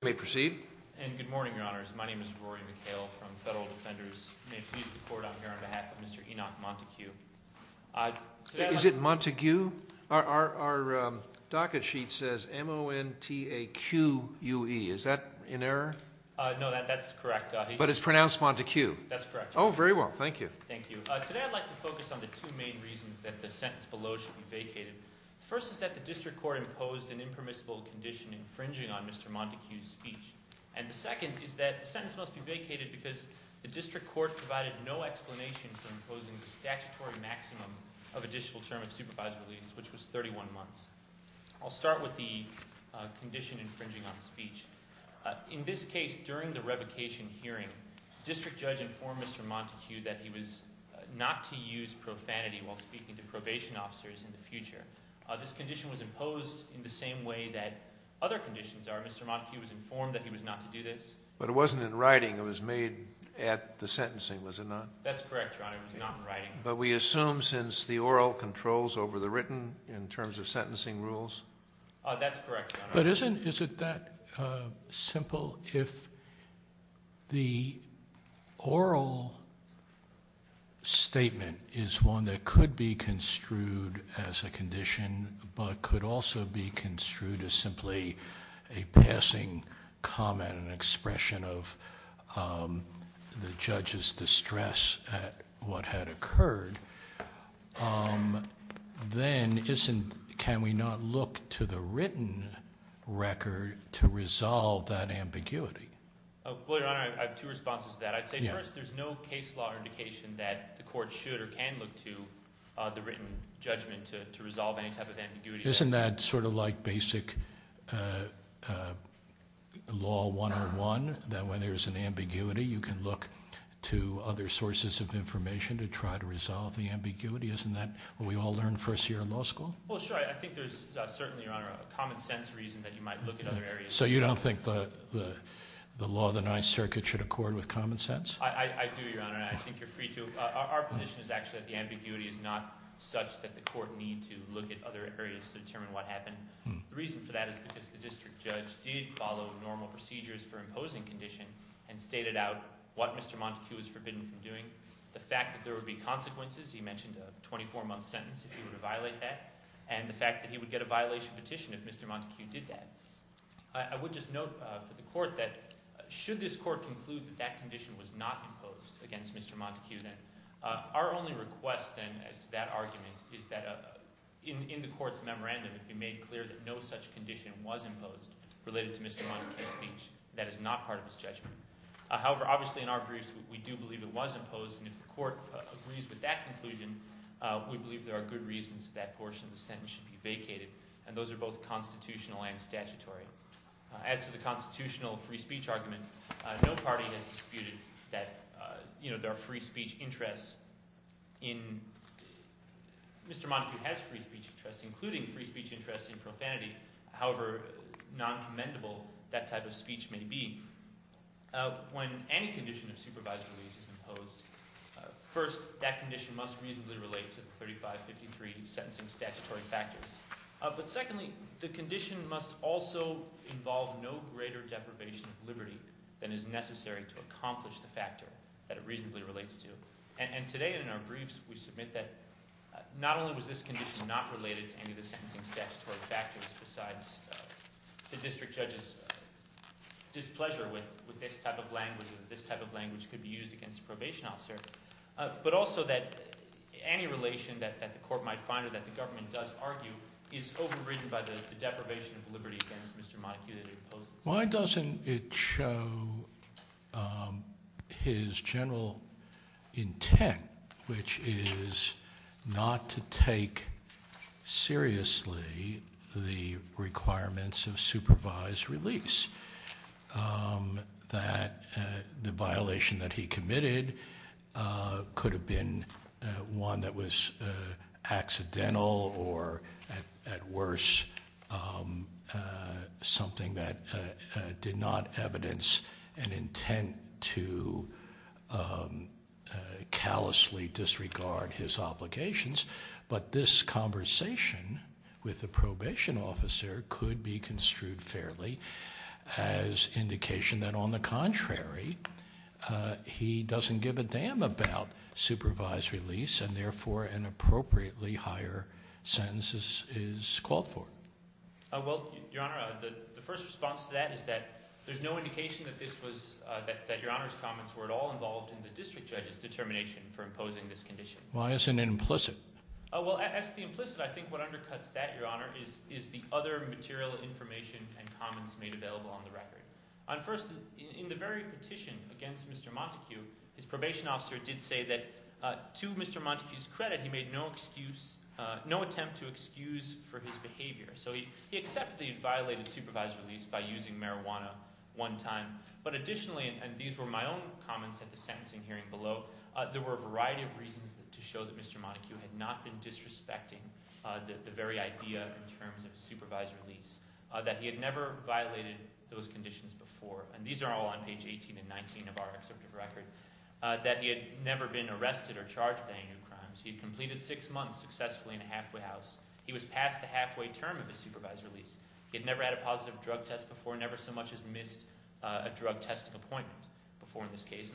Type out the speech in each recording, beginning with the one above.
May proceed. And good morning, Your Honors. My name is Rory McHale from Federal Defenders. May it please the Court, I'm here on behalf of Mr. Enoch Montaque. Is it Montague? Our docket sheet says M-O-N-T-A-Q-U-E. Is that in error? No, that's correct. But it's pronounced Montague. That's correct. Oh, very well. Thank you. Thank you. Today I'd like to focus on the two main reasons that the sentence below should be vacated. The first is that the District Court imposed an impermissible condition infringing on Mr. Montague's speech. And the second is that the sentence must be vacated because the District Court provided no explanation for imposing the statutory maximum of additional term of supervised release, which was 31 months. I'll start with the condition infringing on speech. In this case, during the revocation hearing, District Judge informed Mr. Montague that he was not to use profanity while speaking to probation officers in the future. This condition was imposed in the same way that other conditions are. Mr. Montague was informed that he was not to do this. But it wasn't in writing. It was made at the sentencing, was it not? That's correct, Your Honor. It was not in writing. But we assume since the oral controls over the written in terms of sentencing rules? That's correct, Your Honor. But isn't that simple? If the oral statement is one that could be construed as a condition but could also be construed as simply a passing comment, an expression of the judge's distress at what had occurred, then can we not look to the written record to resolve that ambiguity? Well, Your Honor, I have two responses to that. I'd say first, there's no case law indication that the court should or can look to the written judgment to resolve any type of ambiguity. Isn't that sort of like basic law 101 that when there's an ambiguity, you can look to other sources of information to try to resolve the ambiguity? Isn't that what we all learned first year in law school? Well, sure. I think there's certainly, Your Honor, a common sense reason that you might look at other areas. So you don't think the law of the Ninth Circuit should accord with common sense? I do, Your Honor, and I think you're free to. Our position is actually that the ambiguity is not such that the court need to look at other areas to determine what happened. The reason for that is because the district judge did follow normal procedures for imposing condition and stated out what Mr. Montague was forbidden from doing. The fact that there would be consequences, he mentioned a 24-month sentence if he were to violate that, and the fact that he would get a violation petition if Mr. Montague did that. I would just note for the court that should this court conclude that that condition was not imposed against Mr. Montague, then our only request then as to that argument is that in the court's memorandum it be made clear that no such condition was imposed related to Mr. Montague's speech. That is not part of his judgment. However, obviously in our briefs, we do believe it was imposed, and if the court agrees with that conclusion, we believe there are good reasons that portion of the sentence should be vacated, and those are both constitutional and statutory. As to the constitutional free speech argument, no party has disputed that there are free speech interests. Mr. Montague has free speech interests, including free speech interests in profanity, however noncommendable that type of speech may be. When any condition of supervised release is imposed, first that condition must reasonably relate to the 3553 sentencing statutory factors. But secondly, the condition must also involve no greater deprivation of liberty than is necessary to accomplish the factor that it reasonably relates to. And today in our briefs, we submit that not only was this condition not related to any of the sentencing statutory factors, besides the district judge's displeasure with this type of language and that this type of language could be used against a probation officer, but also that any relation that the court might find or that the government does argue is overridden by the deprivation of liberty against Mr. Montague that it imposes. Why doesn't it show his general intent, which is not to take seriously the requirements of supervised release, that the violation that he committed could have been one that was accidental or, at worse, something that did not evidence an intent to callously disregard his obligations. But this conversation with the probation officer could be construed fairly as indication that, on the contrary, he doesn't give a damn about supervised release and, therefore, an appropriately higher sentence is called for. Well, Your Honor, the first response to that is that there's no indication that Your Honor's comments were at all involved in the district judge's determination for imposing this condition. Why isn't it implicit? Well, as to the implicit, I think what undercuts that, Your Honor, is the other material information and comments made available on the record. First, in the very petition against Mr. Montague, his probation officer did say that, to Mr. Montague's credit, he made no attempt to excuse for his behavior. So he accepted that he had violated supervised release by using marijuana one time. But, additionally, and these were my own comments at the sentencing hearing below, there were a variety of reasons to show that Mr. Montague had not been disrespecting the very idea in terms of supervised release, that he had never violated those conditions before, and these are all on page 18 and 19 of our excerpt of record, that he had never been arrested or charged with any new crimes. He had completed six months successfully in a halfway house. He was past the halfway term of his supervised release. He had never had a positive drug test before, never so much as missed a drug testing appointment before in this case.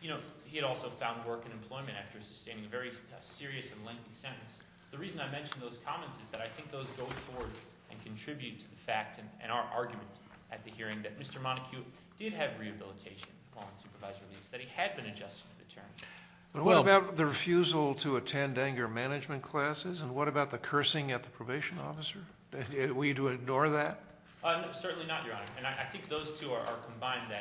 He had also found work and employment after sustaining a very serious and lengthy sentence. The reason I mention those comments is that I think those go towards and contribute to the fact and our argument at the hearing that Mr. Montague did have rehabilitation upon supervised release, that he had been adjusted to the term. What about the refusal to attend anger management classes, and what about the cursing at the probation officer? Were you to ignore that? Certainly not, Your Honor, and I think those two are combined.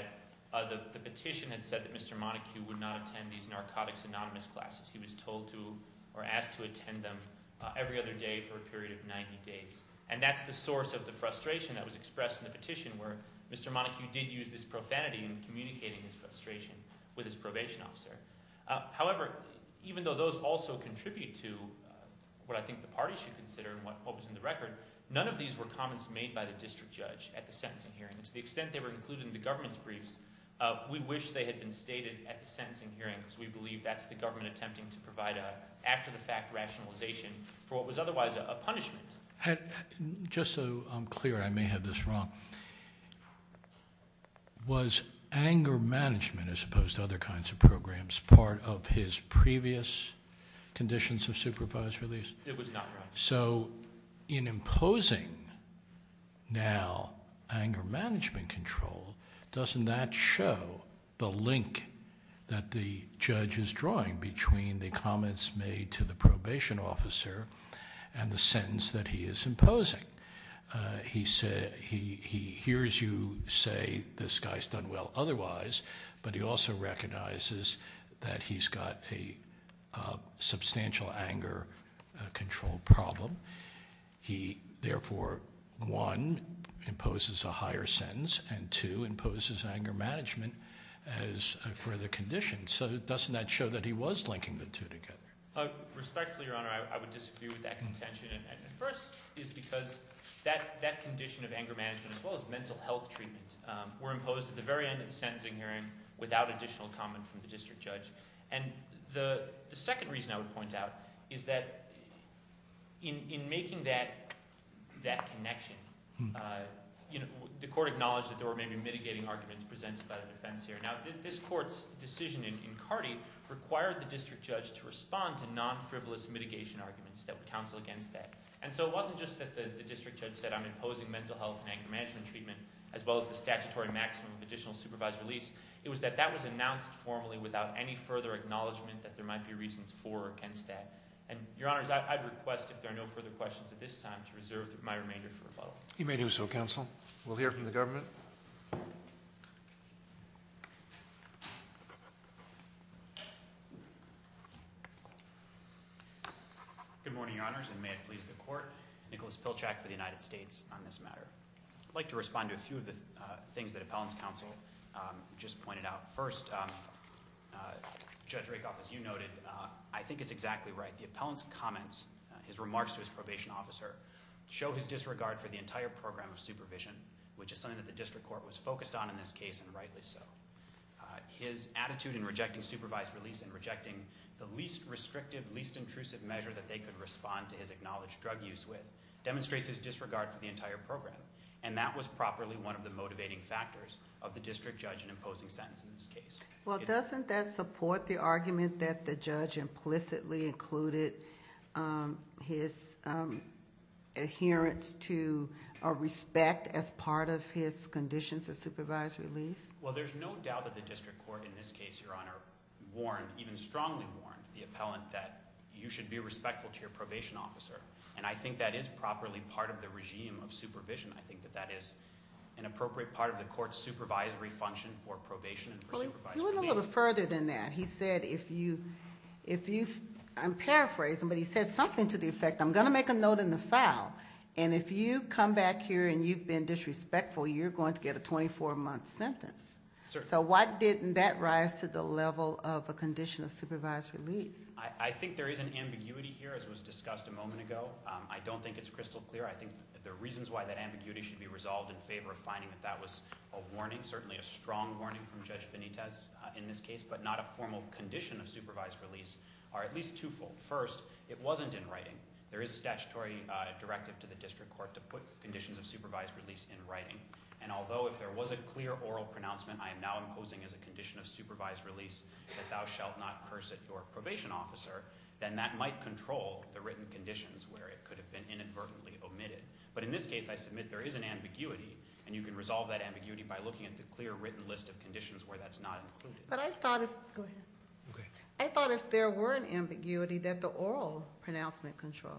The petition had said that Mr. Montague would not attend these narcotics anonymous classes. He was told to or asked to attend them every other day for a period of 90 days, and that's the source of the frustration that was expressed in the petition where Mr. Montague did use this profanity in communicating his frustration with his probation officer. However, even though those also contribute to what I think the party should consider and what was in the record, none of these were comments made by the district judge at the sentencing hearing. To the extent they were included in the government's briefs, we wish they had been stated at the sentencing hearing because we believe that's the government attempting to provide an after-the-fact rationalization for what was otherwise a punishment. Just so I'm clear, I may have this wrong, was anger management, as opposed to other kinds of programs, part of his previous conditions of supervised release? It was not, Your Honor. So in imposing now anger management control, doesn't that show the link that the judge is drawing between the comments made to the probation officer and the sentence that he is imposing? He hears you say this guy's done well otherwise, but he also recognizes that he's got a substantial anger control problem. He, therefore, one, imposes a higher sentence, and two, imposes anger management as a further condition. So doesn't that show that he was linking the two together? Respectfully, Your Honor, I would disagree with that contention. First is because that condition of anger management, as well as mental health treatment, were imposed at the very end of the sentencing hearing without additional comment from the district judge. And the second reason I would point out is that in making that connection, the court acknowledged that there were maybe mitigating arguments presented by the defense here. Now, this court's decision in Cardi required the district judge to respond to non-frivolous mitigation arguments that would counsel against that. And so it wasn't just that the district judge said, I'm imposing mental health and anger management treatment, as well as the statutory maximum of additional supervised release. It was that that was announced formally without any further acknowledgement that there might be reasons for or against that. And, Your Honors, I'd request, if there are no further questions at this time, to reserve my remainder for rebuttal. You may do so, counsel. We'll hear from the government. Thank you. Good morning, Your Honors, and may it please the court. Nicholas Pilchak for the United States on this matter. I'd like to respond to a few of the things that appellant's counsel just pointed out. First, Judge Rakoff, as you noted, I think it's exactly right. The appellant's comments, his remarks to his probation officer, show his disregard for the entire program of supervision, which is something that the district court was focused on in this case, and rightly so. His attitude in rejecting supervised release and rejecting the least restrictive, least intrusive measure that they could respond to his acknowledged drug use with, demonstrates his disregard for the entire program. And that was properly one of the motivating factors of the district judge in imposing sentence in this case. Well, doesn't that support the argument that the judge implicitly included his adherence to a respect as part of his conditions of supervised release? Well, there's no doubt that the district court in this case, Your Honor, warned, even strongly warned, the appellant that you should be respectful to your probation officer. And I think that is properly part of the regime of supervision. I think that that is an appropriate part of the court's supervisory function for probation and for supervised release. Well, he went a little further than that. He said if you, I'm paraphrasing, but he said something to the effect, I'm going to make a note in the file. And if you come back here and you've been disrespectful, you're going to get a 24-month sentence. So why didn't that rise to the level of a condition of supervised release? I think there is an ambiguity here, as was discussed a moment ago. I don't think it's crystal clear. I think the reasons why that ambiguity should be resolved in favor of finding that that was a warning, certainly a strong warning from Judge Benitez in this case, but not a formal condition of supervised release, are at least twofold. First, it wasn't in writing. There is a statutory directive to the district court to put conditions of supervised release in writing. And although if there was a clear oral pronouncement, I am now imposing as a condition of supervised release that thou shalt not curse at your probation officer, then that might control the written conditions where it could have been inadvertently omitted. But in this case, I submit there is an ambiguity, and you can resolve that ambiguity by looking at the clear written list of conditions where that's not included. But I thought if there were an ambiguity that the oral pronouncement controls.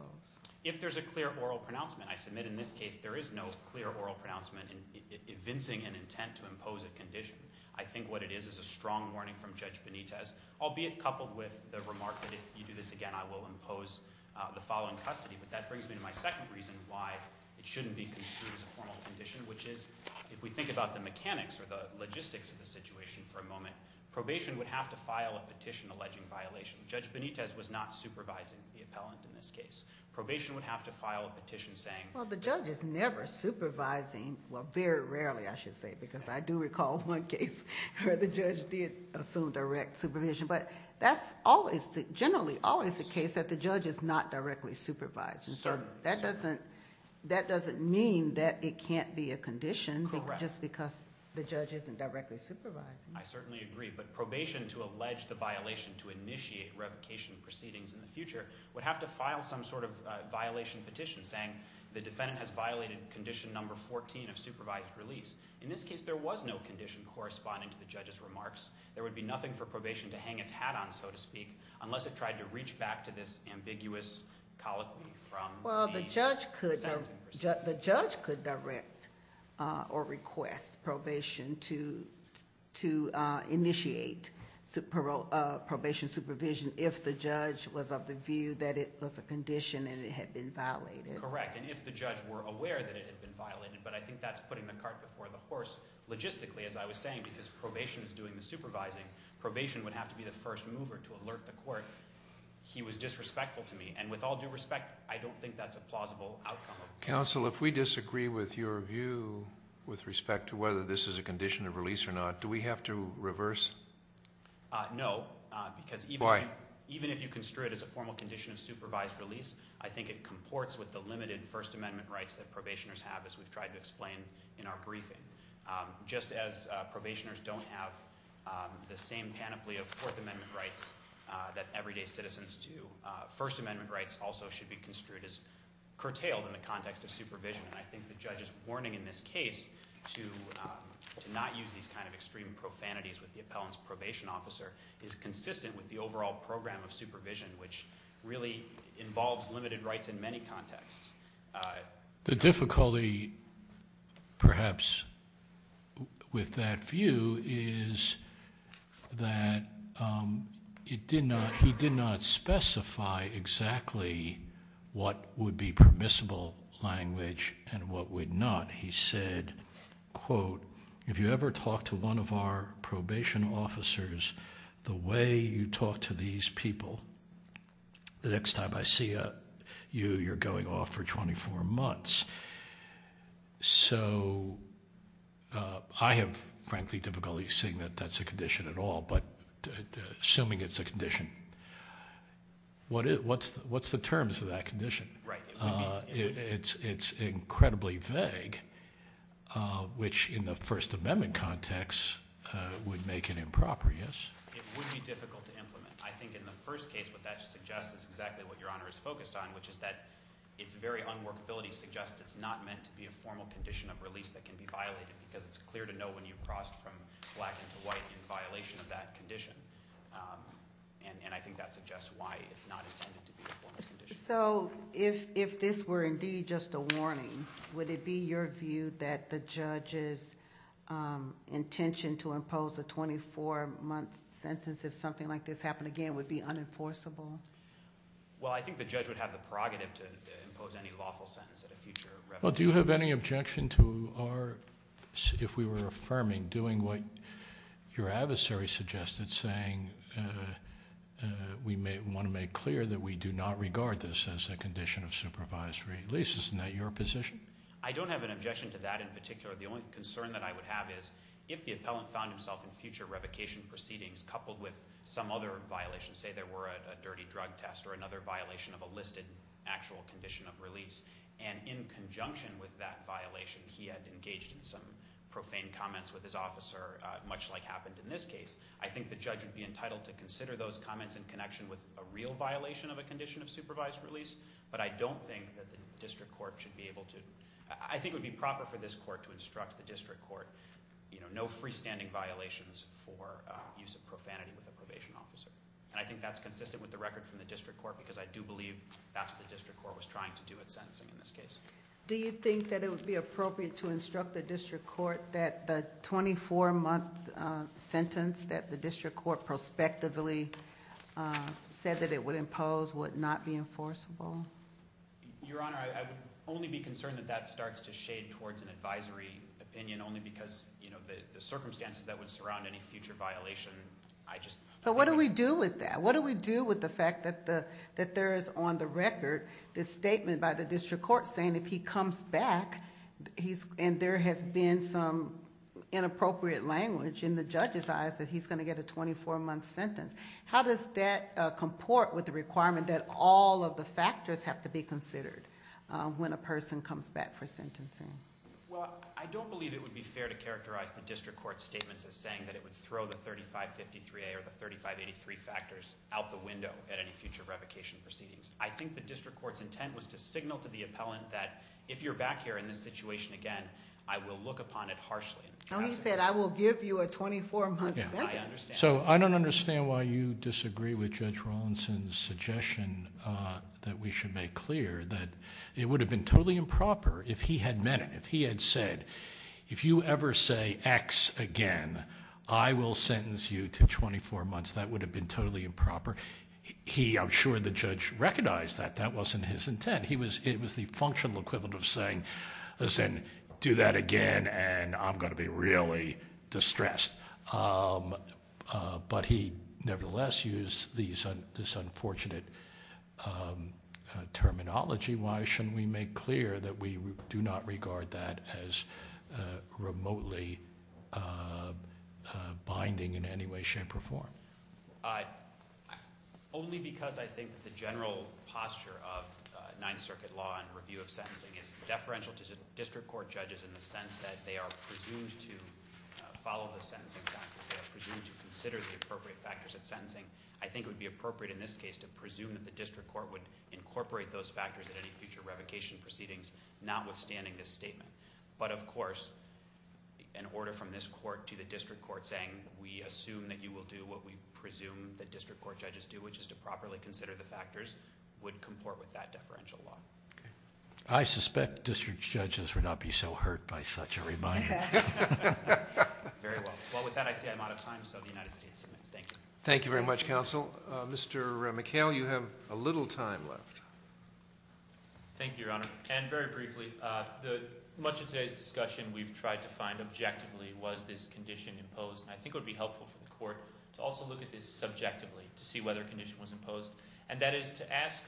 If there's a clear oral pronouncement, I submit in this case there is no clear oral pronouncement evincing an intent to impose a condition. I think what it is is a strong warning from Judge Benitez, albeit coupled with the remark that if you do this again, I will impose the following custody. But that brings me to my second reason why it shouldn't be construed as a formal condition, which is if we think about the mechanics or the logistics of the situation for a moment, probation would have to file a petition alleging violation. Judge Benitez was not supervising the appellant in this case. Probation would have to file a petition saying- Well, the judge is never supervising, well, very rarely, I should say, because I do recall one case where the judge did assume direct supervision. But that's generally always the case that the judge is not directly supervising. So that doesn't mean that it can't be a condition just because the judge isn't directly supervising. I certainly agree. But probation to allege the violation to initiate revocation proceedings in the future would have to file some sort of violation petition saying the defendant has violated condition number 14 of supervised release. In this case, there was no condition corresponding to the judge's remarks. There would be nothing for probation to hang its hat on, so to speak, unless it tried to reach back to this ambiguous colloquy from the sentencing perspective. Well, the judge could direct or request probation to initiate probation supervision if the judge was of the view that it was a condition and it had been violated. Correct, and if the judge were aware that it had been violated. But I think that's putting the cart before the horse logistically, as I was saying, because probation is doing the supervising. Probation would have to be the first mover to alert the court. He was disrespectful to me. And with all due respect, I don't think that's a plausible outcome. Counsel, if we disagree with your view with respect to whether this is a condition of release or not, do we have to reverse? No, because even if you construe it as a formal condition of supervised release, I think it comports with the limited First Amendment rights that probationers have, as we've tried to explain in our briefing. Just as probationers don't have the same panoply of Fourth Amendment rights that everyday citizens do, First Amendment rights also should be construed as curtailed in the context of supervision. And I think the judge's warning in this case to not use these kind of extreme profanities with the appellant's probation officer is consistent with the overall program of supervision, which really involves limited rights in many contexts. The difficulty, perhaps, with that view is that he did not specify exactly what would be permissible language and what would not. He said, quote, if you ever talk to one of our probation officers the way you talk to these people, the next time I see you, you're going off for 24 months. So I have, frankly, difficulty seeing that that's a condition at all. But assuming it's a condition, what's the terms of that condition? It's incredibly vague, which in the First Amendment context would make it improprious. It would be difficult to implement. I think in the first case what that suggests is exactly what Your Honor is focused on, which is that its very unworkability suggests it's not meant to be a formal condition of release that can be violated because it's clear to know when you've crossed from black into white in violation of that condition. And I think that suggests why it's not intended to be a formal condition. So if this were indeed just a warning, would it be your view that the judge's intention to impose a 24-month sentence if something like this happened again would be unenforceable? Well, I think the judge would have the prerogative to impose any lawful sentence at a future revelation. Well, do you have any objection to our, if we were affirming, doing what your adversary suggested, saying we want to make clear that we do not regard this as a condition of supervised release? Isn't that your position? I don't have an objection to that in particular. The only concern that I would have is if the appellant found himself in future revocation proceedings coupled with some other violation, say there were a dirty drug test or another violation of a listed actual condition of release, and in conjunction with that violation he had engaged in some profane comments with his officer, much like happened in this case, I think the judge would be entitled to consider those comments in connection with a real violation of a condition of supervised release, but I don't think that the district court should be able to, I think it would be proper for this court to instruct the district court, you know, no freestanding violations for use of profanity with a probation officer. And I think that's consistent with the record from the district court because I do believe that's what the district court was trying to do at sentencing in this case. Do you think that it would be appropriate to instruct the district court that the 24-month sentence that the district court prospectively said that it would impose would not be enforceable? Your Honor, I would only be concerned that that starts to shade towards an advisory opinion only because, you know, the circumstances that would surround any future violation, I just... But what do we do with that? What do we do with the fact that there is on the record this statement by the district court saying if he comes back, and there has been some inappropriate language in the judge's eyes that he's going to get a 24-month sentence, how does that comport with the requirement that all of the factors have to be considered when a person comes back for sentencing? Well, I don't believe it would be fair to characterize the district court's statements as saying that it would throw the 3553A or the 3583 factors out the window at any future revocation proceedings. I think the district court's intent was to signal to the appellant that if you're back here in this situation again, I will look upon it harshly. And he said, I will give you a 24-month sentence. So I don't understand why you disagree with Judge Rawlinson's suggestion that we should make clear that it would have been totally improper if he had meant it, if he had said, if you ever say X again, I will sentence you to 24 months. That would have been totally improper. He, I'm sure, the judge recognized that that wasn't his intent. It was the functional equivalent of saying, listen, do that again and I'm going to be really distressed. But he nevertheless used this unfortunate terminology. Why shouldn't we make clear that we do not regard that as remotely binding in any way, shape, or form? Only because I think that the general posture of Ninth Circuit law and review of sentencing is deferential to district court judges in the sense that they are presumed to follow the sentencing factors. They are presumed to consider the appropriate factors of sentencing. I think it would be appropriate in this case to presume that the district court would incorporate those factors at any future revocation proceedings, notwithstanding this statement. But, of course, an order from this court to the district court saying we assume that you will do what we presume that district court judges do, which is to properly consider the factors, would comport with that deferential law. I suspect district judges would not be so hurt by such a reminder. Very well. Well, with that, I see I'm out of time, so the United States submits. Thank you. Thank you very much, counsel. Mr. McHale, you have a little time left. Thank you, Your Honor. And very briefly, much of today's discussion we've tried to find objectively was this condition imposed. I think it would be helpful for the court to also look at this subjectively to see whether a condition was imposed, and that is to ask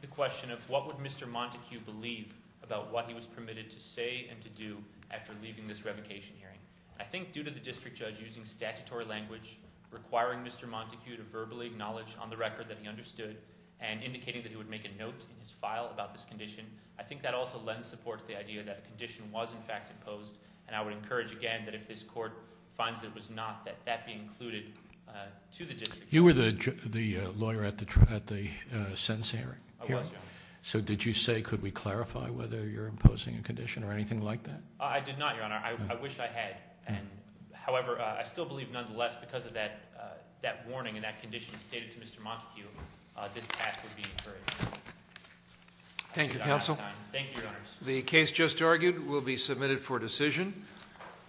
the question of what would Mr. Montague believe about what he was permitted to say and to do after leaving this revocation hearing. I think due to the district judge using statutory language, requiring Mr. Montague to verbally acknowledge on the record that he understood and indicating that he would make a note in his file about this condition, I think that also lends support to the idea that a condition was, in fact, imposed, and I would encourage again that if this court finds it was not, that that be included to the district judge. You were the lawyer at the sentencing hearing. I was, Your Honor. So did you say could we clarify whether you're imposing a condition or anything like that? I did not, Your Honor. I wish I had. However, I still believe nonetheless because of that warning and that condition stated to Mr. Montague, this task would be encouraged. Thank you, counsel. Thank you, Your Honor. The case just argued will be submitted for decision,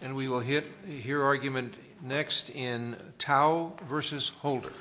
and we will hear argument next in Tao v. Holder.